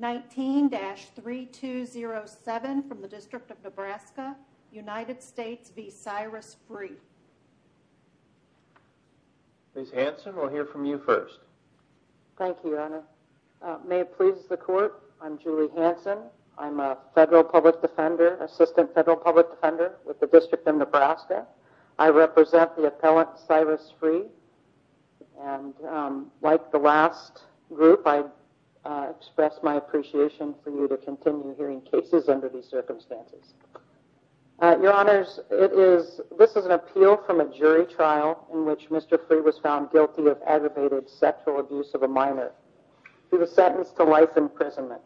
19-3207 from the District of Nebraska, United States v. Cyrus Free Ms. Hanson, we'll hear from you first. Thank you, Your Honor. May it please the Court, I'm Julie Hanson. I'm a Federal Public Defender, Assistant Federal Public Defender with the District of Nebraska. I represent the appellant Cyrus Free. And like the last group, I express my appreciation for you to continue hearing cases under these circumstances. Your Honors, this is an appeal from a jury trial in which Mr. Free was found guilty of aggravated sexual abuse of a minor. He was sentenced to life imprisonment.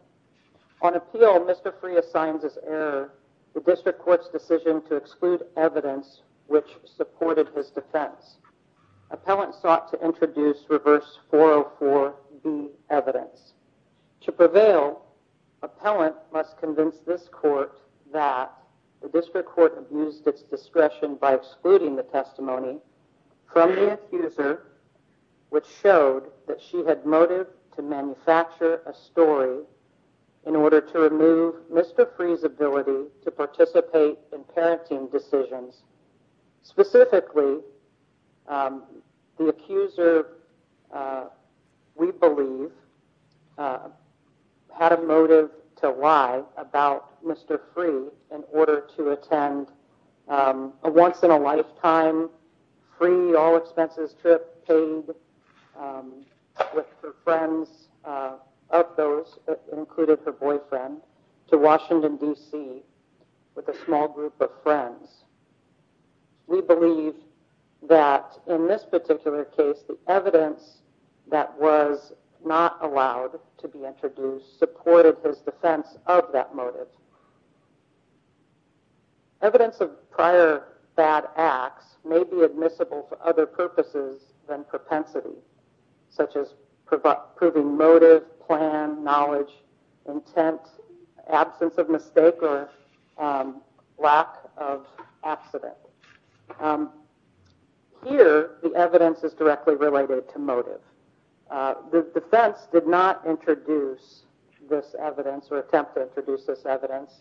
On appeal, Mr. Free assigns as error the District Court's decision to exclude evidence which supported his defense. Appellant sought to introduce reverse 404B evidence. To prevail, appellant must convince this Court that the District Court abused its discretion by excluding the testimony from the accuser which showed that she had motive to manufacture a story in order to remove Mr. Free's ability to participate in parenting decisions. Specifically, the accuser, we believe, had a motive to lie about Mr. Free in order to attend a once-in-a-lifetime free all-expenses trip paid with her friends of those, including her boyfriend, to Washington, D.C. with a small group of friends. We believe that in this particular case, the evidence that was not allowed to be introduced supported his defense of that motive. Evidence of prior bad acts may be admissible for other purposes than propensity, such as proving motive, plan, knowledge, intent, absence of mistake, or lack of accident. Here, the evidence is directly related to motive. The defense did not attempt to introduce this evidence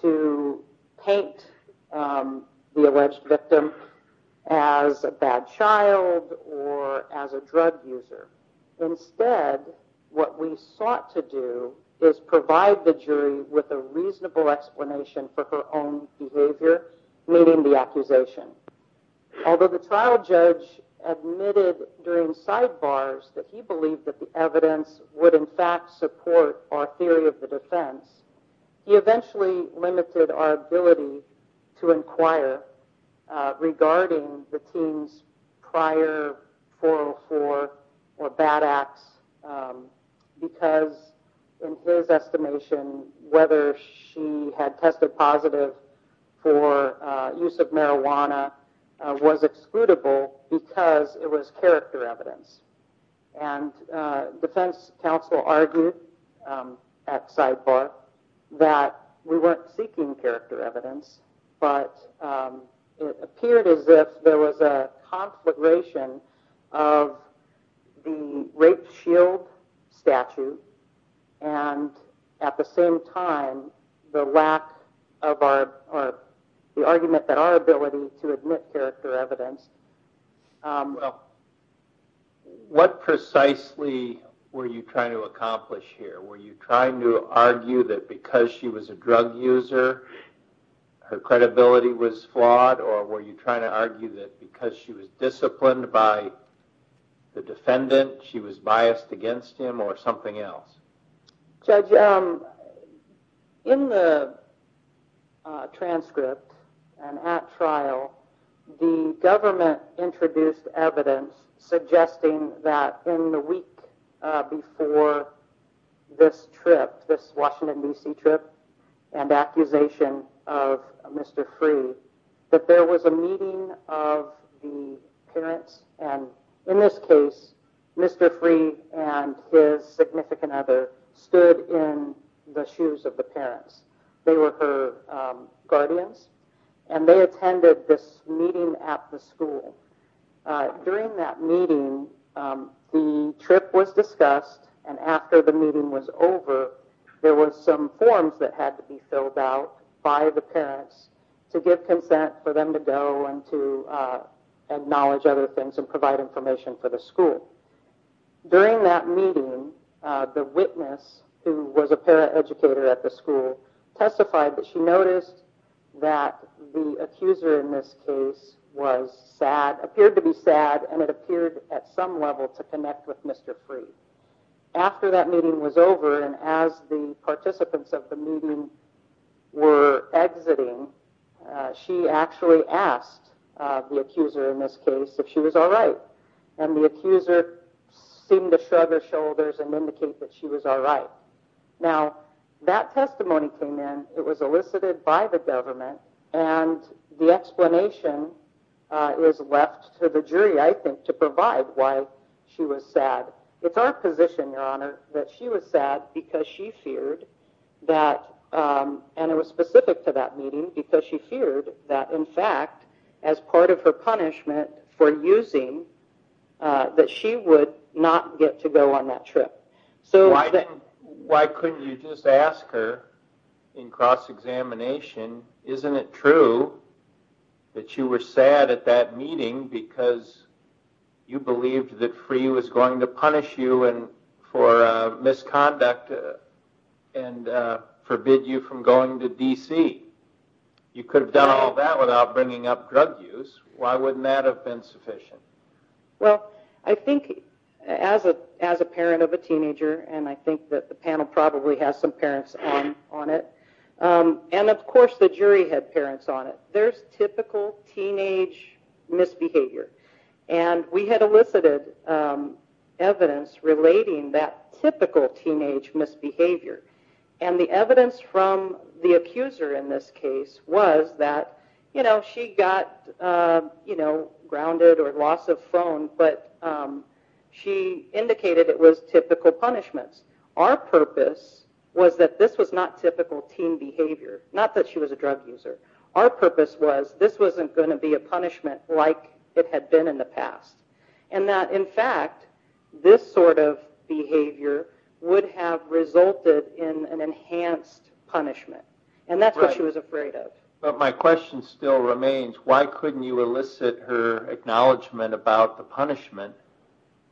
to paint the alleged victim as a bad child or as a drug user. Instead, what we sought to do is provide the jury with a reasonable explanation for her own behavior, meaning the accusation. Although the trial judge admitted during sidebars that he believed that the evidence would, in fact, support our theory of the defense, he eventually limited our ability to inquire regarding the teen's prior 404 or bad acts because, in his estimation, whether she had tested positive for use of marijuana was excludable because it was character evidence. Defense counsel argued at sidebar that we weren't seeking character evidence, but it appeared as if there was a conflagration of the rape shield statute and, at the same time, the argument that our ability to admit character evidence What precisely were you trying to accomplish here? Were you trying to argue that because she was a drug user, her credibility was flawed, or were you trying to argue that because she was disciplined by the defendant, she was biased against him or something else? Judge, in the transcript and at trial, the government introduced evidence suggesting that in the week before this trip, this Washington, D.C. trip and accusation of Mr. Freeh, that there was a meeting of the parents and, in this case, Mr. Freeh and his significant others. Mr. Freeh's mother stood in the shoes of the parents. They were her guardians, and they attended this meeting at the school. During that meeting, the trip was discussed, and after the meeting was over, there were some forms that had to be filled out by the parents to give consent for them to go and to acknowledge other things and provide information for the school. During that meeting, the witness, who was a paraeducator at the school, testified that she noticed that the accuser in this case was sad, appeared to be sad, and it appeared at some level to connect with Mr. Freeh. After that meeting was over, and as the participants of the meeting were exiting, she actually asked the accuser in this case if she was all right, and the accuser seemed to shrug her shoulders and indicate that she was all right. Now, that testimony came in. It was elicited by the government, and the explanation was left to the jury, I think, to provide why she was sad. It's our position, Your Honor, that she was sad because she feared that, and it was specific to that meeting, because she feared that, in fact, as part of her punishment for using, that she would not get to go on that trip. Why couldn't you just ask her, in cross-examination, isn't it true that you were sad at that meeting because you believed that Freeh was going to punish you for misconduct and forbid you from going to D.C.? You could have done all that without bringing up drug use. Why wouldn't that have been sufficient? Well, I think, as a parent of a teenager, and I think that the panel probably has some parents on it, and of course the jury had parents on it, there's typical teenage misbehavior, and we had elicited evidence relating that typical teenage misbehavior. And the evidence from the accuser in this case was that she got grounded or loss of phone, but she indicated it was typical punishments. Our purpose was that this was not typical teen behavior, not that she was a drug user. Our purpose was that this wasn't going to be a punishment like it had been in the past, and that, in fact, this sort of behavior would have resulted in an enhanced punishment, and that's what she was afraid of. But my question still remains, why couldn't you elicit her acknowledgement about the punishment,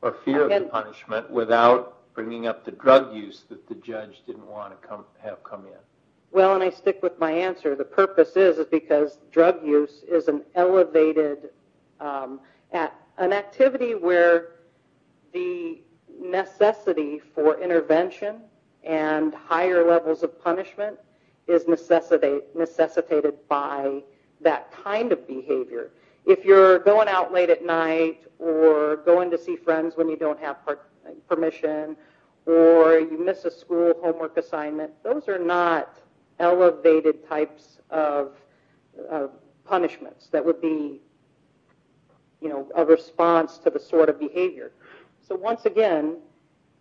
or fear of the punishment, without bringing up the drug use that the judge didn't want to have come in? Well, and I stick with my answer. The purpose is because drug use is an elevated, an activity where the necessity for intervention and higher levels of punishment is necessitated by that kind of behavior. If you're going out late at night, or going to see friends when you don't have permission, or you miss a school homework assignment, those are not elevated types of punishments that would be a response to the sort of behavior. So once again,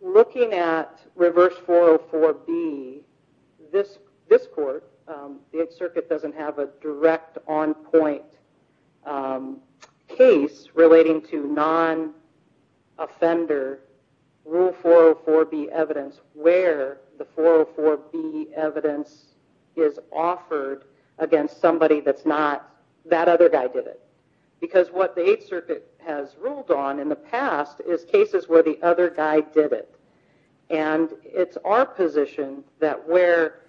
looking at Reverse 404B, this court, the Eighth Circuit, doesn't have a direct on-point case relating to non-offender Rule 404B evidence where the 404B evidence is offered against somebody that's not that other guy did it. Because what the Eighth Circuit has ruled on in the past is cases where the other guy did it. And it's our position that where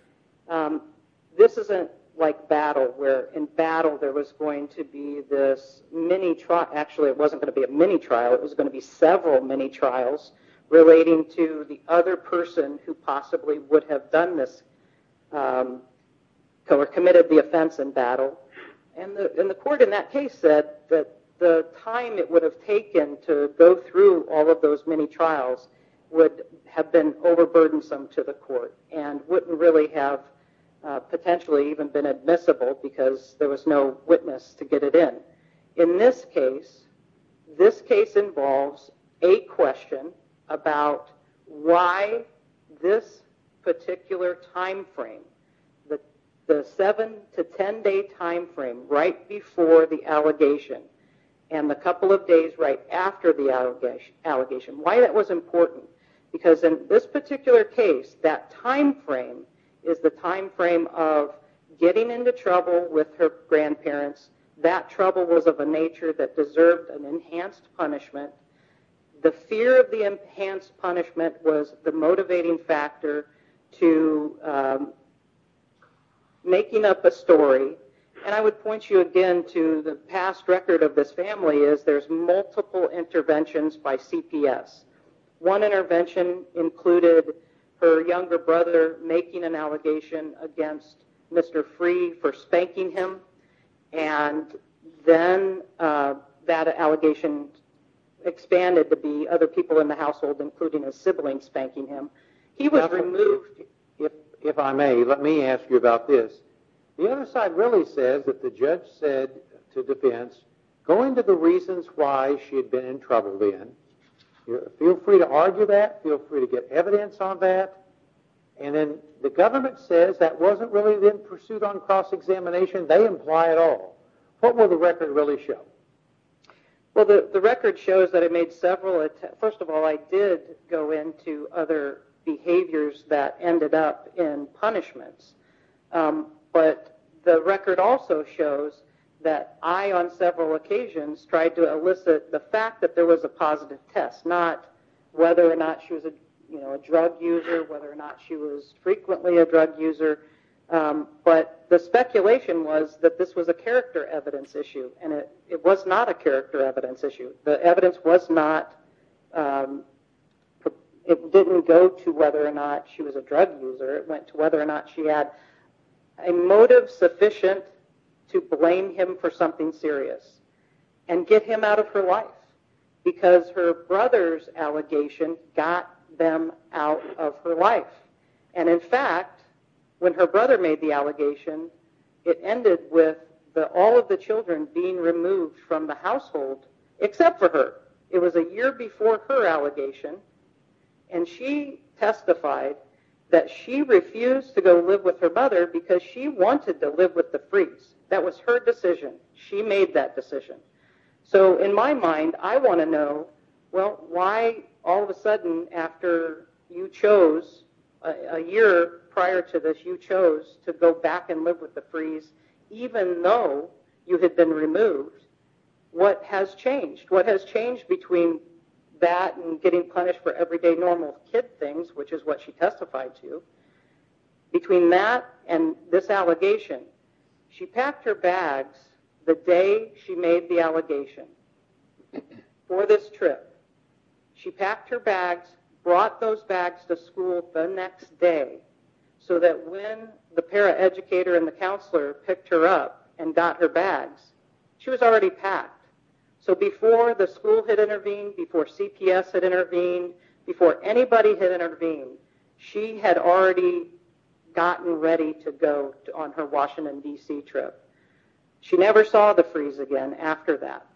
this isn't like battle, where in battle there was going to be this mini trial, actually it wasn't going to be a mini trial, it was going to be several mini trials relating to the other person who possibly would have done this, or committed the offense in battle. And the court in that case said that the time it would have taken to go through all of those mini trials would have been overburdensome to the court, and wouldn't really have potentially even been admissible because there was no witness to get it in. And in this case, this case involves a question about why this particular time frame, the seven to ten day time frame right before the allegation, and the couple of days right after the allegation, why that was important. Because in this particular case, that time frame is the time frame of getting into trouble with her grandparents, that trouble was of a nature that deserved an enhanced punishment, the fear of the enhanced punishment was the motivating factor to making up a story, and I would point you again to the past record of this family is there's multiple interventions by CPS. One intervention included her younger brother making an allegation against Mr. Free for spanking him, and then that allegation expanded to be other people in the household, including a sibling spanking him. He was removed. If I may, let me ask you about this. The other side really said that the judge said to defense, go into the reasons why she had been in trouble then, feel free to argue that, feel free to get evidence on that, and then the government says that wasn't really the pursuit on cross-examination, they imply it all. What will the record really show? Well, the record shows that it made several attempts. First of all, I did go into other behaviors that ended up in punishments, but the record also shows that I on several occasions tried to elicit the fact that there was a positive test, not whether or not she was a drug user, whether or not she was frequently a drug user, but the speculation was that this was a character evidence issue, and it was not a character evidence issue. The evidence was not, it didn't go to whether or not she was a drug user, it went to whether or not she had a motive sufficient to blame him for something serious and get him out of her life, because her brother's allegation got them out of her life. And in fact, when her brother made the allegation, it ended with all of the children being removed from the household except for her. It was a year before her allegation, and she testified that she refused to go live with her mother because she wanted to live with the Freaks. That was her decision. She made that decision. So in my mind, I want to know, well, why all of a sudden after you chose, a year prior to this, you chose to go back and live with the Freaks, even though you had been removed, what has changed? What has changed between that and getting punished for everyday normal kid things, which is what she testified to, between that and this allegation, she packed her bags the day she made the allegation for this trip. She packed her bags, brought those bags to school the next day, so that when the paraeducator and the counselor picked her up and got her bags, she was already packed. So before the school had intervened, before CPS had intervened, before anybody had intervened, she had already gotten ready to go on her Washington, D.C. trip. She never saw the Freaks again after that.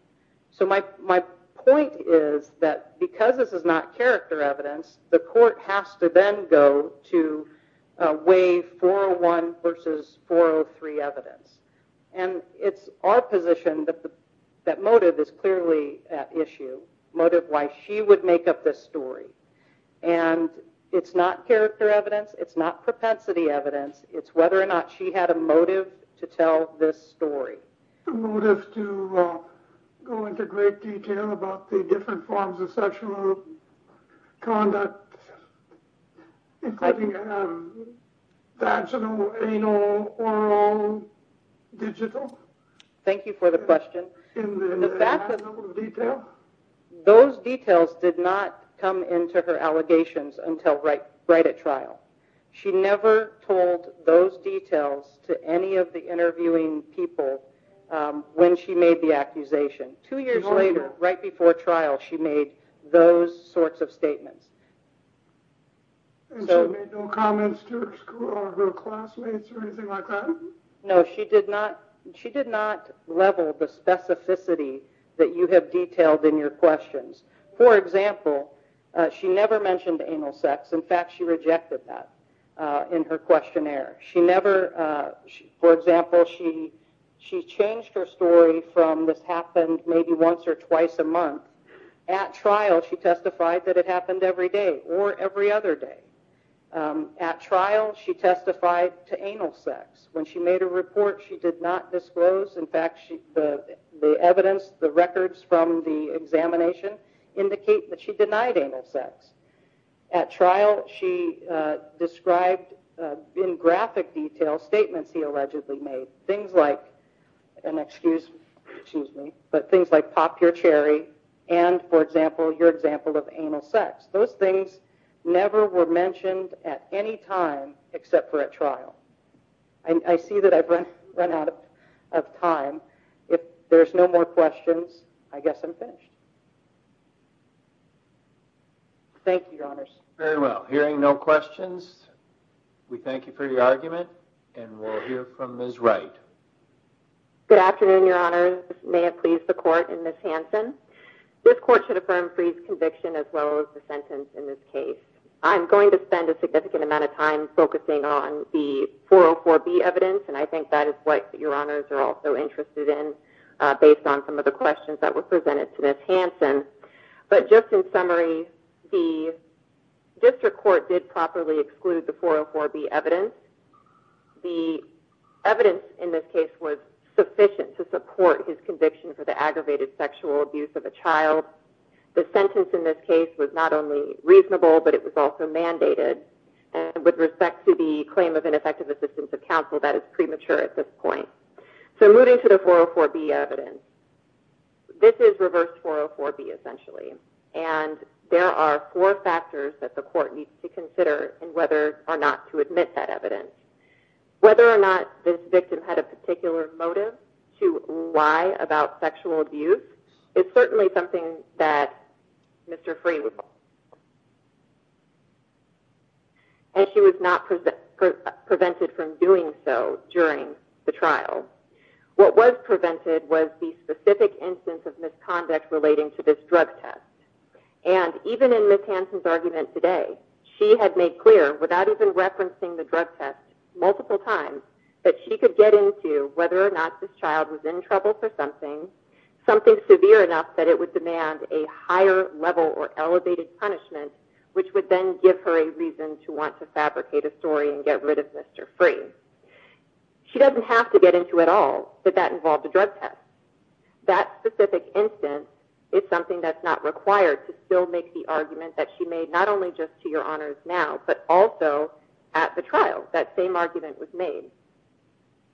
So my point is that because this is not character evidence, the court has to then go to waive 401 versus 403 evidence. And it's our position that motive is clearly at issue, motive why she would make up this story. And it's not character evidence, it's not propensity evidence, it's whether or not she had a motive to tell this story. Did she have a motive to go into great detail about the different forms of sexual conduct, including vaginal, anal, oral, digital? Thank you for the question. In that little detail? Those details did not come into her allegations until right at trial. She never told those details to any of the interviewing people when she made the accusation. Two years later, right before trial, she made those sorts of statements. And she made no comments to her school or her classmates or anything like that? No, she did not level the specificity that you have detailed in your questions. For example, she never mentioned anal sex. In fact, she rejected that in her questionnaire. For example, she changed her story from this happened maybe once or twice a month. At trial, she testified that it happened every day or every other day. At trial, she testified to anal sex. When she made a report, she did not disclose. In fact, the evidence, the records from the examination indicate that she denied anal sex. At trial, she described in graphic detail statements he allegedly made. Things like pop your cherry and, for example, your example of anal sex. Those things never were mentioned at any time except for at trial. I see that I've run out of time. If there's no more questions, I guess I'm finished. Thank you, Your Honors. Very well. Hearing no questions, we thank you for your argument. And we'll hear from Ms. Wright. Good afternoon, Your Honors. May it please the Court and Ms. Hanson. This court should affirm Fried's conviction as well as the sentence in this case. I'm going to spend a significant amount of time focusing on the 404B evidence, and I think that is what Your Honors are also interested in based on some of the questions that were presented to Ms. Hanson. But just in summary, the district court did properly exclude the 404B evidence. The evidence in this case was sufficient to support his conviction for the aggravated sexual abuse of a child. The sentence in this case was not only reasonable, but it was also mandated. And with respect to the claim of ineffective assistance of counsel, that is premature at this point. So moving to the 404B evidence. This is reverse 404B, essentially. And there are four factors that the court needs to consider in whether or not to admit that evidence. Whether or not this victim had a particular motive to lie about sexual abuse is certainly something that Mr. Fried was responsible for. And she was not prevented from doing so during the trial. What was prevented was the specific instance of misconduct relating to this drug test. And even in Ms. Hanson's argument today, she had made clear without even referencing the drug test multiple times that she could get into whether or not this child was in trouble for something, something severe enough that it would demand a higher level or elevated punishment, which would then give her a reason to want to fabricate a story and get rid of Mr. Fried. She doesn't have to get into it at all, but that involved a drug test. That specific instance is something that's not required to still make the argument that she made not only just to your honors now, but also at the trial. That same argument was made.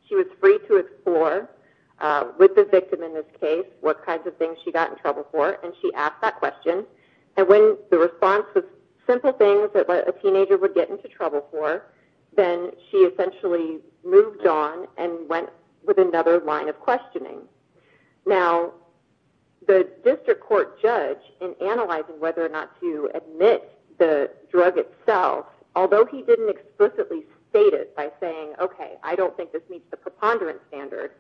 She was free to explore with the victim in this case what kinds of things she got in trouble for, and she asked that question. And when the response was simple things that a teenager would get into trouble for, then she essentially moved on and went with another line of questioning. Now, the district court judge, in analyzing whether or not to admit the drug itself, although he didn't explicitly state it by saying, okay, I don't think this meets the preponderance standard,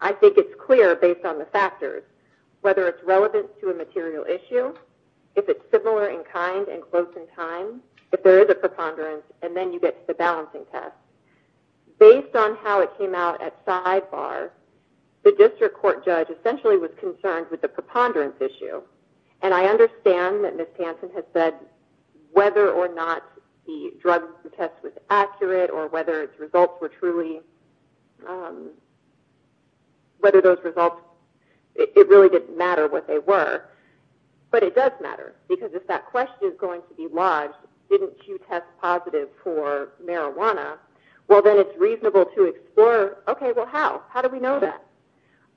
I think it's clear based on the factors whether it's relevant to a material issue, if it's similar in kind and close in time, if there is a preponderance, and then you get to the balancing test. Based on how it came out at sidebar, the district court judge essentially was concerned with the preponderance issue, and I understand that Ms. Tanton has said whether or not the drug test was accurate or whether its results were truly, whether those results, it really didn't matter what they were, but it does matter, because if that question is going to be lodged, didn't you test positive for marijuana, well, then it's reasonable to explore, okay, well, how? How do we know that?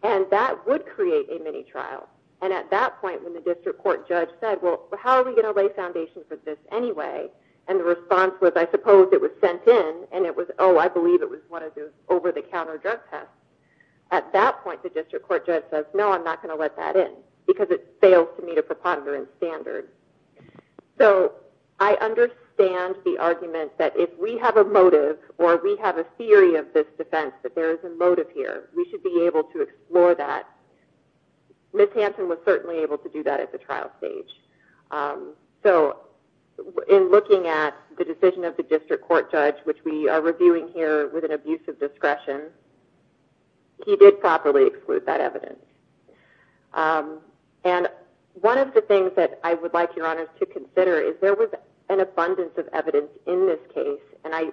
And that would create a mini trial. And at that point, when the district court judge said, well, how are we going to lay foundation for this anyway? And the response was, I suppose it was sent in, and it was, oh, I believe it was one of those over-the-counter drug tests. At that point, the district court judge says, no, I'm not going to let that in, because it fails to meet a preponderance standard. So I understand the argument that if we have a motive or we have a theory of this defense that there is a motive here, we should be able to explore that. Ms. Hanson was certainly able to do that at the trial stage. So in looking at the decision of the district court judge, which we are reviewing here with an abuse of discretion, he did properly exclude that evidence. And one of the things that I would like your honors to consider is there was an abundance of evidence in this case, and I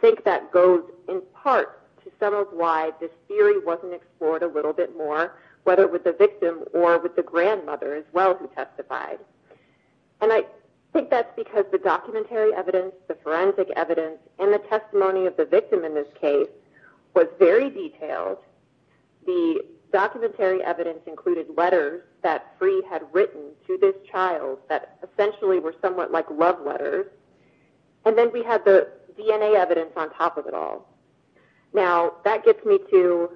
think that goes in part to some of why this theory wasn't explored a little bit more, whether it was the victim or with the grandmother as well who testified. And I think that's because the documentary evidence, the forensic evidence, and the testimony of the victim in this case was very detailed. The documentary evidence included letters that Free had written to this child that essentially were somewhat like love letters, and then we had the DNA evidence on top of it all. Now, that gets me to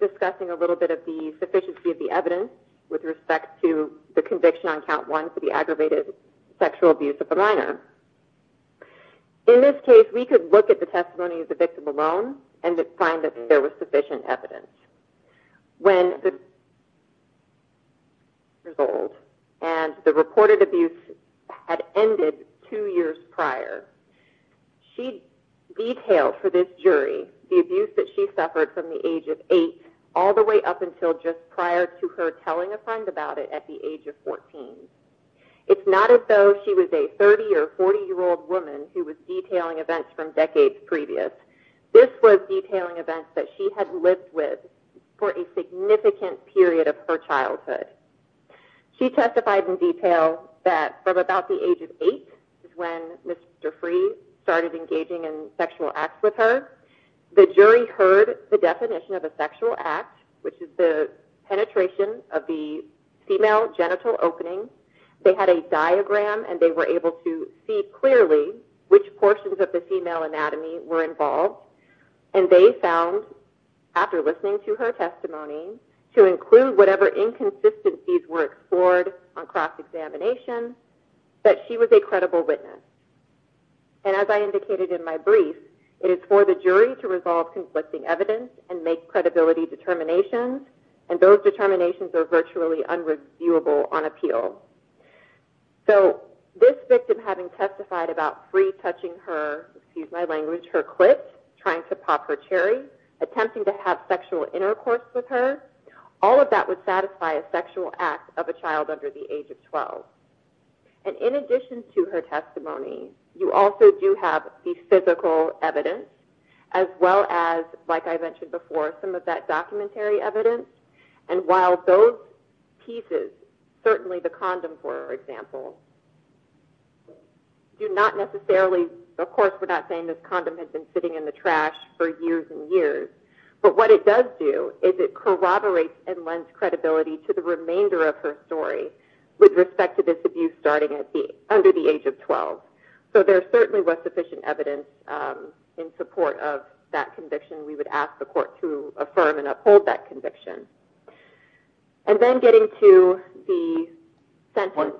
discussing a little bit of the sufficiency of the evidence with respect to the conviction on count one for the aggravated sexual abuse of a minor. In this case, we could look at the testimony of the victim alone and find that there was sufficient evidence. When the result and the reported abuse had ended two years prior, she detailed for this jury the abuse that she suffered from the age of eight all the way up until just prior to her telling a friend about it at the age of 14. It's not as though she was a 30- or 40-year-old woman who was detailing events from decades previous. This was detailing events that she had lived with for a significant period of her childhood. She testified in detail that from about the age of eight is when Mr. Free started engaging in sexual acts with her. The jury heard the definition of a sexual act, which is the penetration of the female genital opening. They had a diagram, and they were able to see clearly which portions of the female anatomy were involved, and they found, after listening to her testimony, to include whatever inconsistencies were explored on cross-examination, that she was a credible witness. As I indicated in my brief, it is for the jury to resolve conflicting evidence and make credibility determinations, and those determinations are virtually unreviewable on appeal. This victim, having testified about Free touching her clit, trying to pop her cherry, attempting to have sexual intercourse with her, all of that would satisfy a sexual act of a child under the age of 12. In addition to her testimony, you also do have the physical evidence, as well as, like I mentioned before, some of that documentary evidence, and while those pieces, certainly the condom, for example, do not necessarily... But what it does do is it corroborates and lends credibility to the remainder of her story with respect to this abuse starting under the age of 12. So there certainly was sufficient evidence in support of that conviction. We would ask the court to affirm and uphold that conviction. And then getting to the sentence...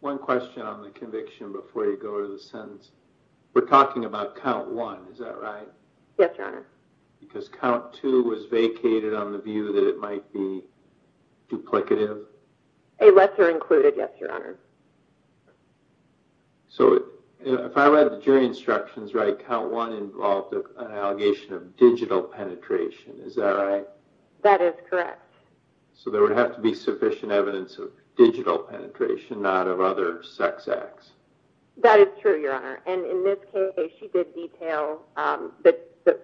One question on the conviction before you go to the sentence. We're talking about count one, is that right? Yes, Your Honor. Because count two was vacated on the view that it might be duplicative? A lesser included, yes, Your Honor. So if I read the jury instructions right, count one involved an allegation of digital penetration. Is that right? That is correct. So there would have to be sufficient evidence of digital penetration, not of other sex acts. That is true, Your Honor. And in this case, she did detail that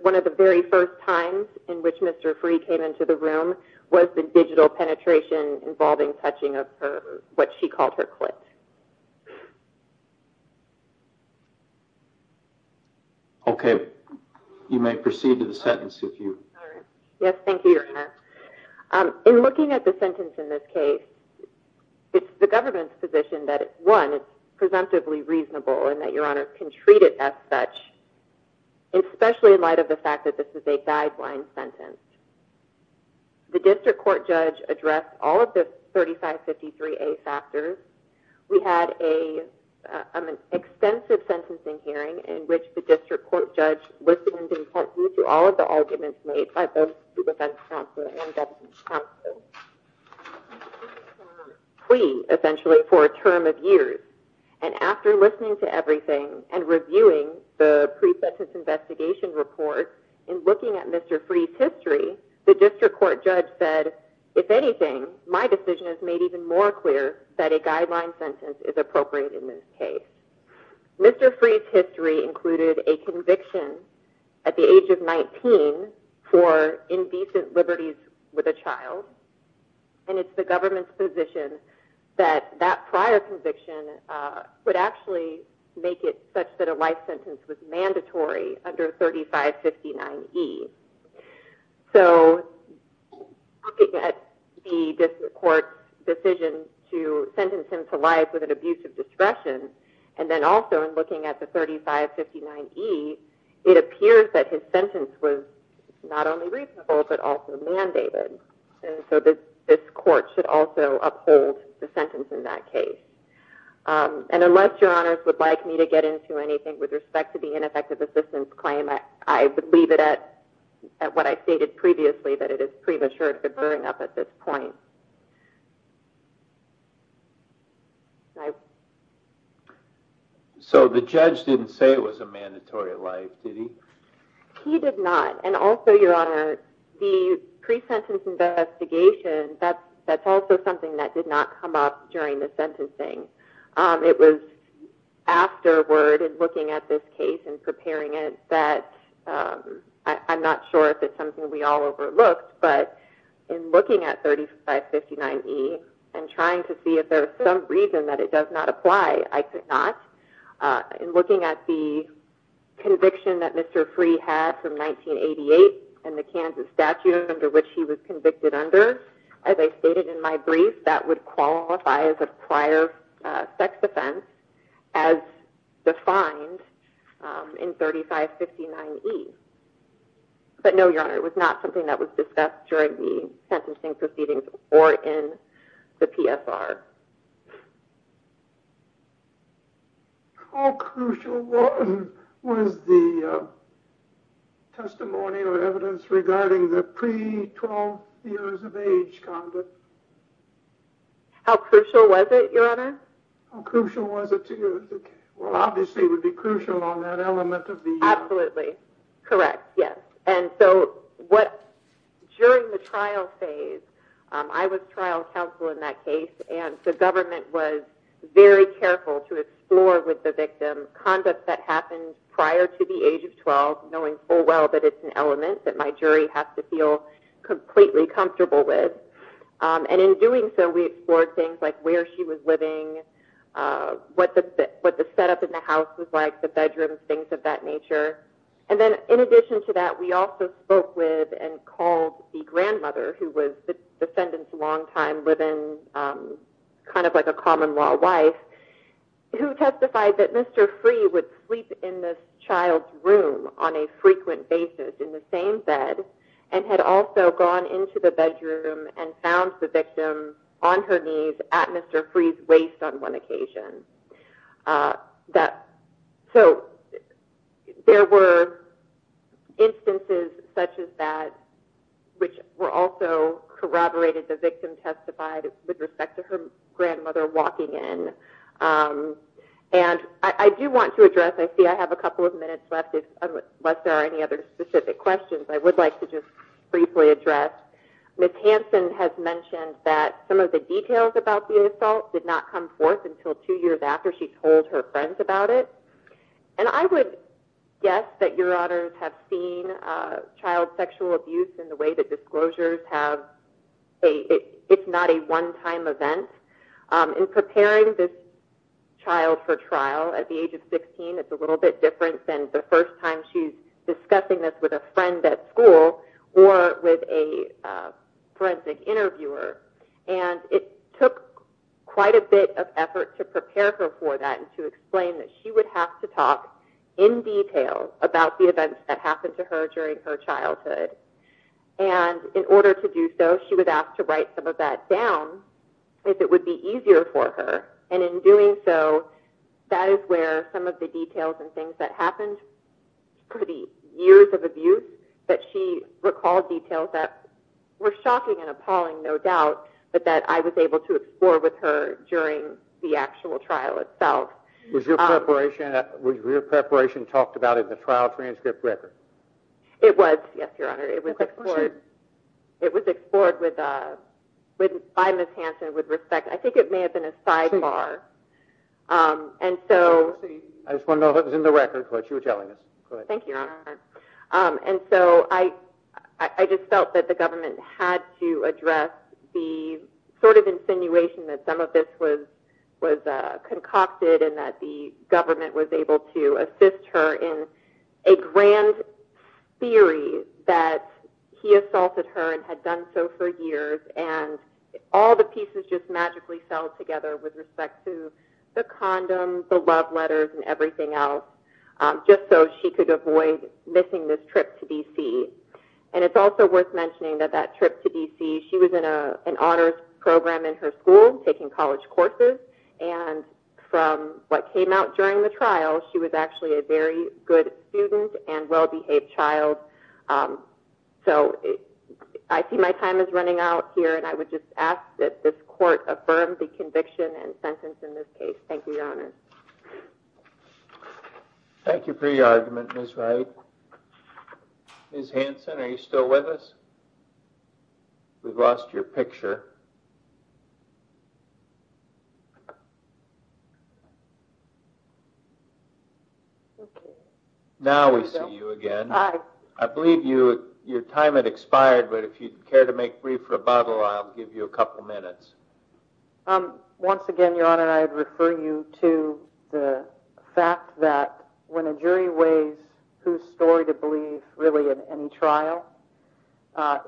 one of the very first times in which Mr. Free came into the room was the digital penetration involving touching of what she called her clit. Okay. You may proceed to the sentence if you... All right. Yes, thank you, Your Honor. In looking at the sentence in this case, it's the government's position that, one, it's presumptively reasonable and that Your Honor can treat it as such, especially in light of the fact that this is a guideline sentence. The district court judge addressed all of the 3553A factors. We had an extensive sentencing hearing in which the district court judge listened in part to all of the arguments made by both the defense counsel and the deputy counsel. This is a plea, essentially, for a term of years. And after listening to everything and reviewing the pre-sentence investigation report and looking at Mr. Free's history, the district court judge said, if anything, my decision is made even more clear that a guideline sentence is appropriate in this case. Mr. Free's history included a conviction at the age of 19 for indecent liberties with a child, and it's the government's position that that prior conviction would actually make it such that a life sentence was mandatory under 3559E. So looking at the district court's decision to sentence him to life with an abuse of discretion, and then also in looking at the 3559E, it appears that his sentence was not only reasonable but also mandated. And so this court should also uphold the sentence in that case. And unless your honors would like me to get into anything with respect to the ineffective assistance claim, I would leave it at what I stated previously, that it is premature to bring up at this point. So the judge didn't say it was a mandatory life, did he? He did not. And also, your honor, the pre-sentence investigation, that's also something that did not come up during the sentencing. It was afterward, in looking at this case and preparing it, that I'm not sure if it's something we all overlooked, but in looking at 3559E and trying to see if there was some reason that it does not apply, I could not. In looking at the conviction that Mr. Free had from 1988 and the Kansas statute under which he was convicted under, as I stated in my brief, that would qualify as a prior sex offense as defined in 3559E. But no, your honor, it was not something that was discussed during the sentencing proceedings or in the PSR. How crucial was the testimony or evidence regarding the pre-12 years of age conduct? How crucial was it, your honor? How crucial was it to you? Well, obviously it would be crucial on that element of the year. Absolutely, correct, yes. During the trial phase, I was trial counsel in that case, and the government was very careful to explore with the victim conduct that happened prior to the age of 12, knowing full well that it's an element that my jury has to feel completely comfortable with. In doing so, we explored things like where she was living, what the setup in the house was like, the bedrooms, things of that nature. In addition to that, we also spoke with and called the grandmother, who was the defendant's longtime live-in, kind of like a common-law wife, who testified that Mr. Free would sleep in this child's room on a frequent basis in the same bed and had also gone into the bedroom and found the victim on her knees at Mr. Free's waist on one occasion. So there were instances such as that which were also corroborated. The victim testified with respect to her grandmother walking in. I do want to address, I see I have a couple of minutes left, unless there are any other specific questions, I would like to just briefly address. Ms. Hansen has mentioned that some of the details about the assault did not come forth until two years after she told her friends about it. And I would guess that your honors have seen child sexual abuse in the way that disclosures have. It's not a one-time event. In preparing this child for trial at the age of 16, it's a little bit different than the first time she's discussing this with a friend at school or with a forensic interviewer. And it took quite a bit of effort to prepare her for that and to explain that she would have to talk in detail about the events that happened to her during her childhood. And in order to do so, she was asked to write some of that down if it would be easier for her. And in doing so, that is where some of the details and things that happened for the years of abuse that she recalled details that were shocking and appalling, no doubt, but that I was able to explore with her during the actual trial itself. Was your preparation talked about in the trial transcript record? It was, yes, your honor. It was explored by Ms. Hansen with respect. I think it may have been a sidebar. I just want to know if it was in the record, what you were telling us. Thank you, your honor. And so I just felt that the government had to address the sort of insinuation that some of this was concocted and that the government was able to assist her in a grand theory that he assaulted her and had done so for years and all the pieces just magically fell together with respect to the condom, the love letters, and everything else, just so she could avoid missing this trip to D.C. And it's also worth mentioning that that trip to D.C., she was in an honors program in her school, taking college courses, and from what came out during the trial, she was actually a very good student and well-behaved child. So I see my time is running out here, and I would just ask that this court affirm the conviction and sentence in this case. Thank you, your honor. Thank you for your argument, Ms. Wright. Ms. Hanson, are you still with us? We've lost your picture. Now we see you again. I believe your time had expired, but if you'd care to make brief rebuttal, I'll give you a couple minutes. Once again, your honor, I'd refer you to the fact that when a jury weighs whose story to believe really in any trial,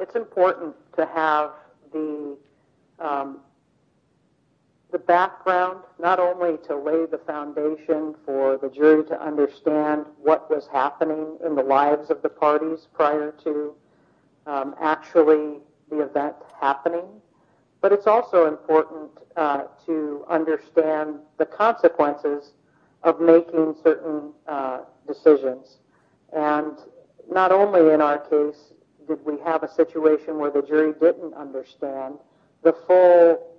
it's important to have the background not only to lay the foundation for the jury to understand what was happening in the lives of the parties prior to actually the event happening, but it's also important to understand the consequences of making certain decisions. And not only in our case did we have a situation where the jury didn't understand the full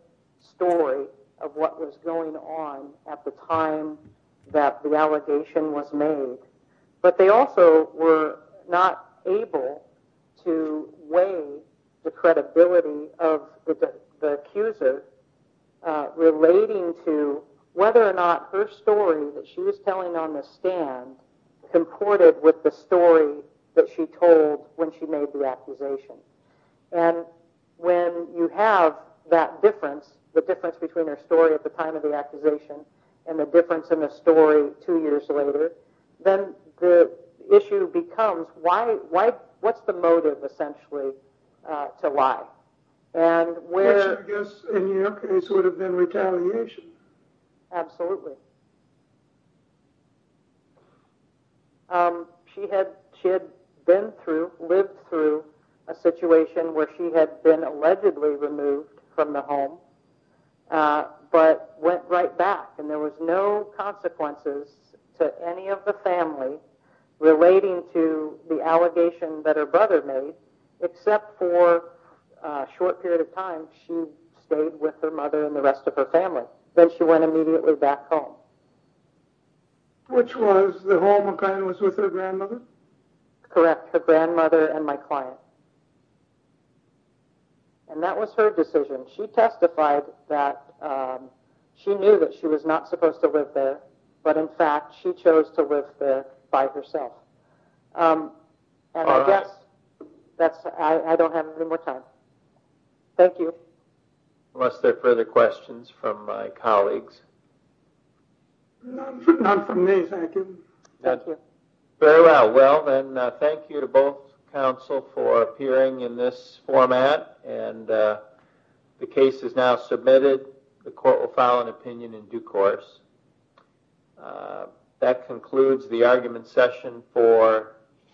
story of what was going on at the time that the allegation was made, but they also were not able to weigh the credibility of the accuser relating to whether or not her story that she was telling on the stand comported with the story that she told when she made the accusation. And when you have that difference, the difference between her story at the time of the accusation and the difference in the story two years later, then the issue becomes what's the motive essentially to lie? And where... Which I guess in your case would have been retaliation. Absolutely. She had been through, lived through a situation where she had been allegedly removed from the home, but went right back and there was no consequences to any of the family relating to the allegation that her brother made, except for a short period of time she stayed with her mother and the rest of her family. Then she went immediately back home. Which was the home that was with her grandmother? Correct, her grandmother and my client. And that was her decision. She testified that she knew that she was not supposed to live there, but in fact she chose to live there by herself. And I guess I don't have any more time. Thank you. Unless there are further questions from my colleagues. None from me, thank you. Thank you. Very well. Well, then thank you to both counsel for appearing in this format. The case is now submitted. The court will file an opinion in due course. That concludes the argument session for.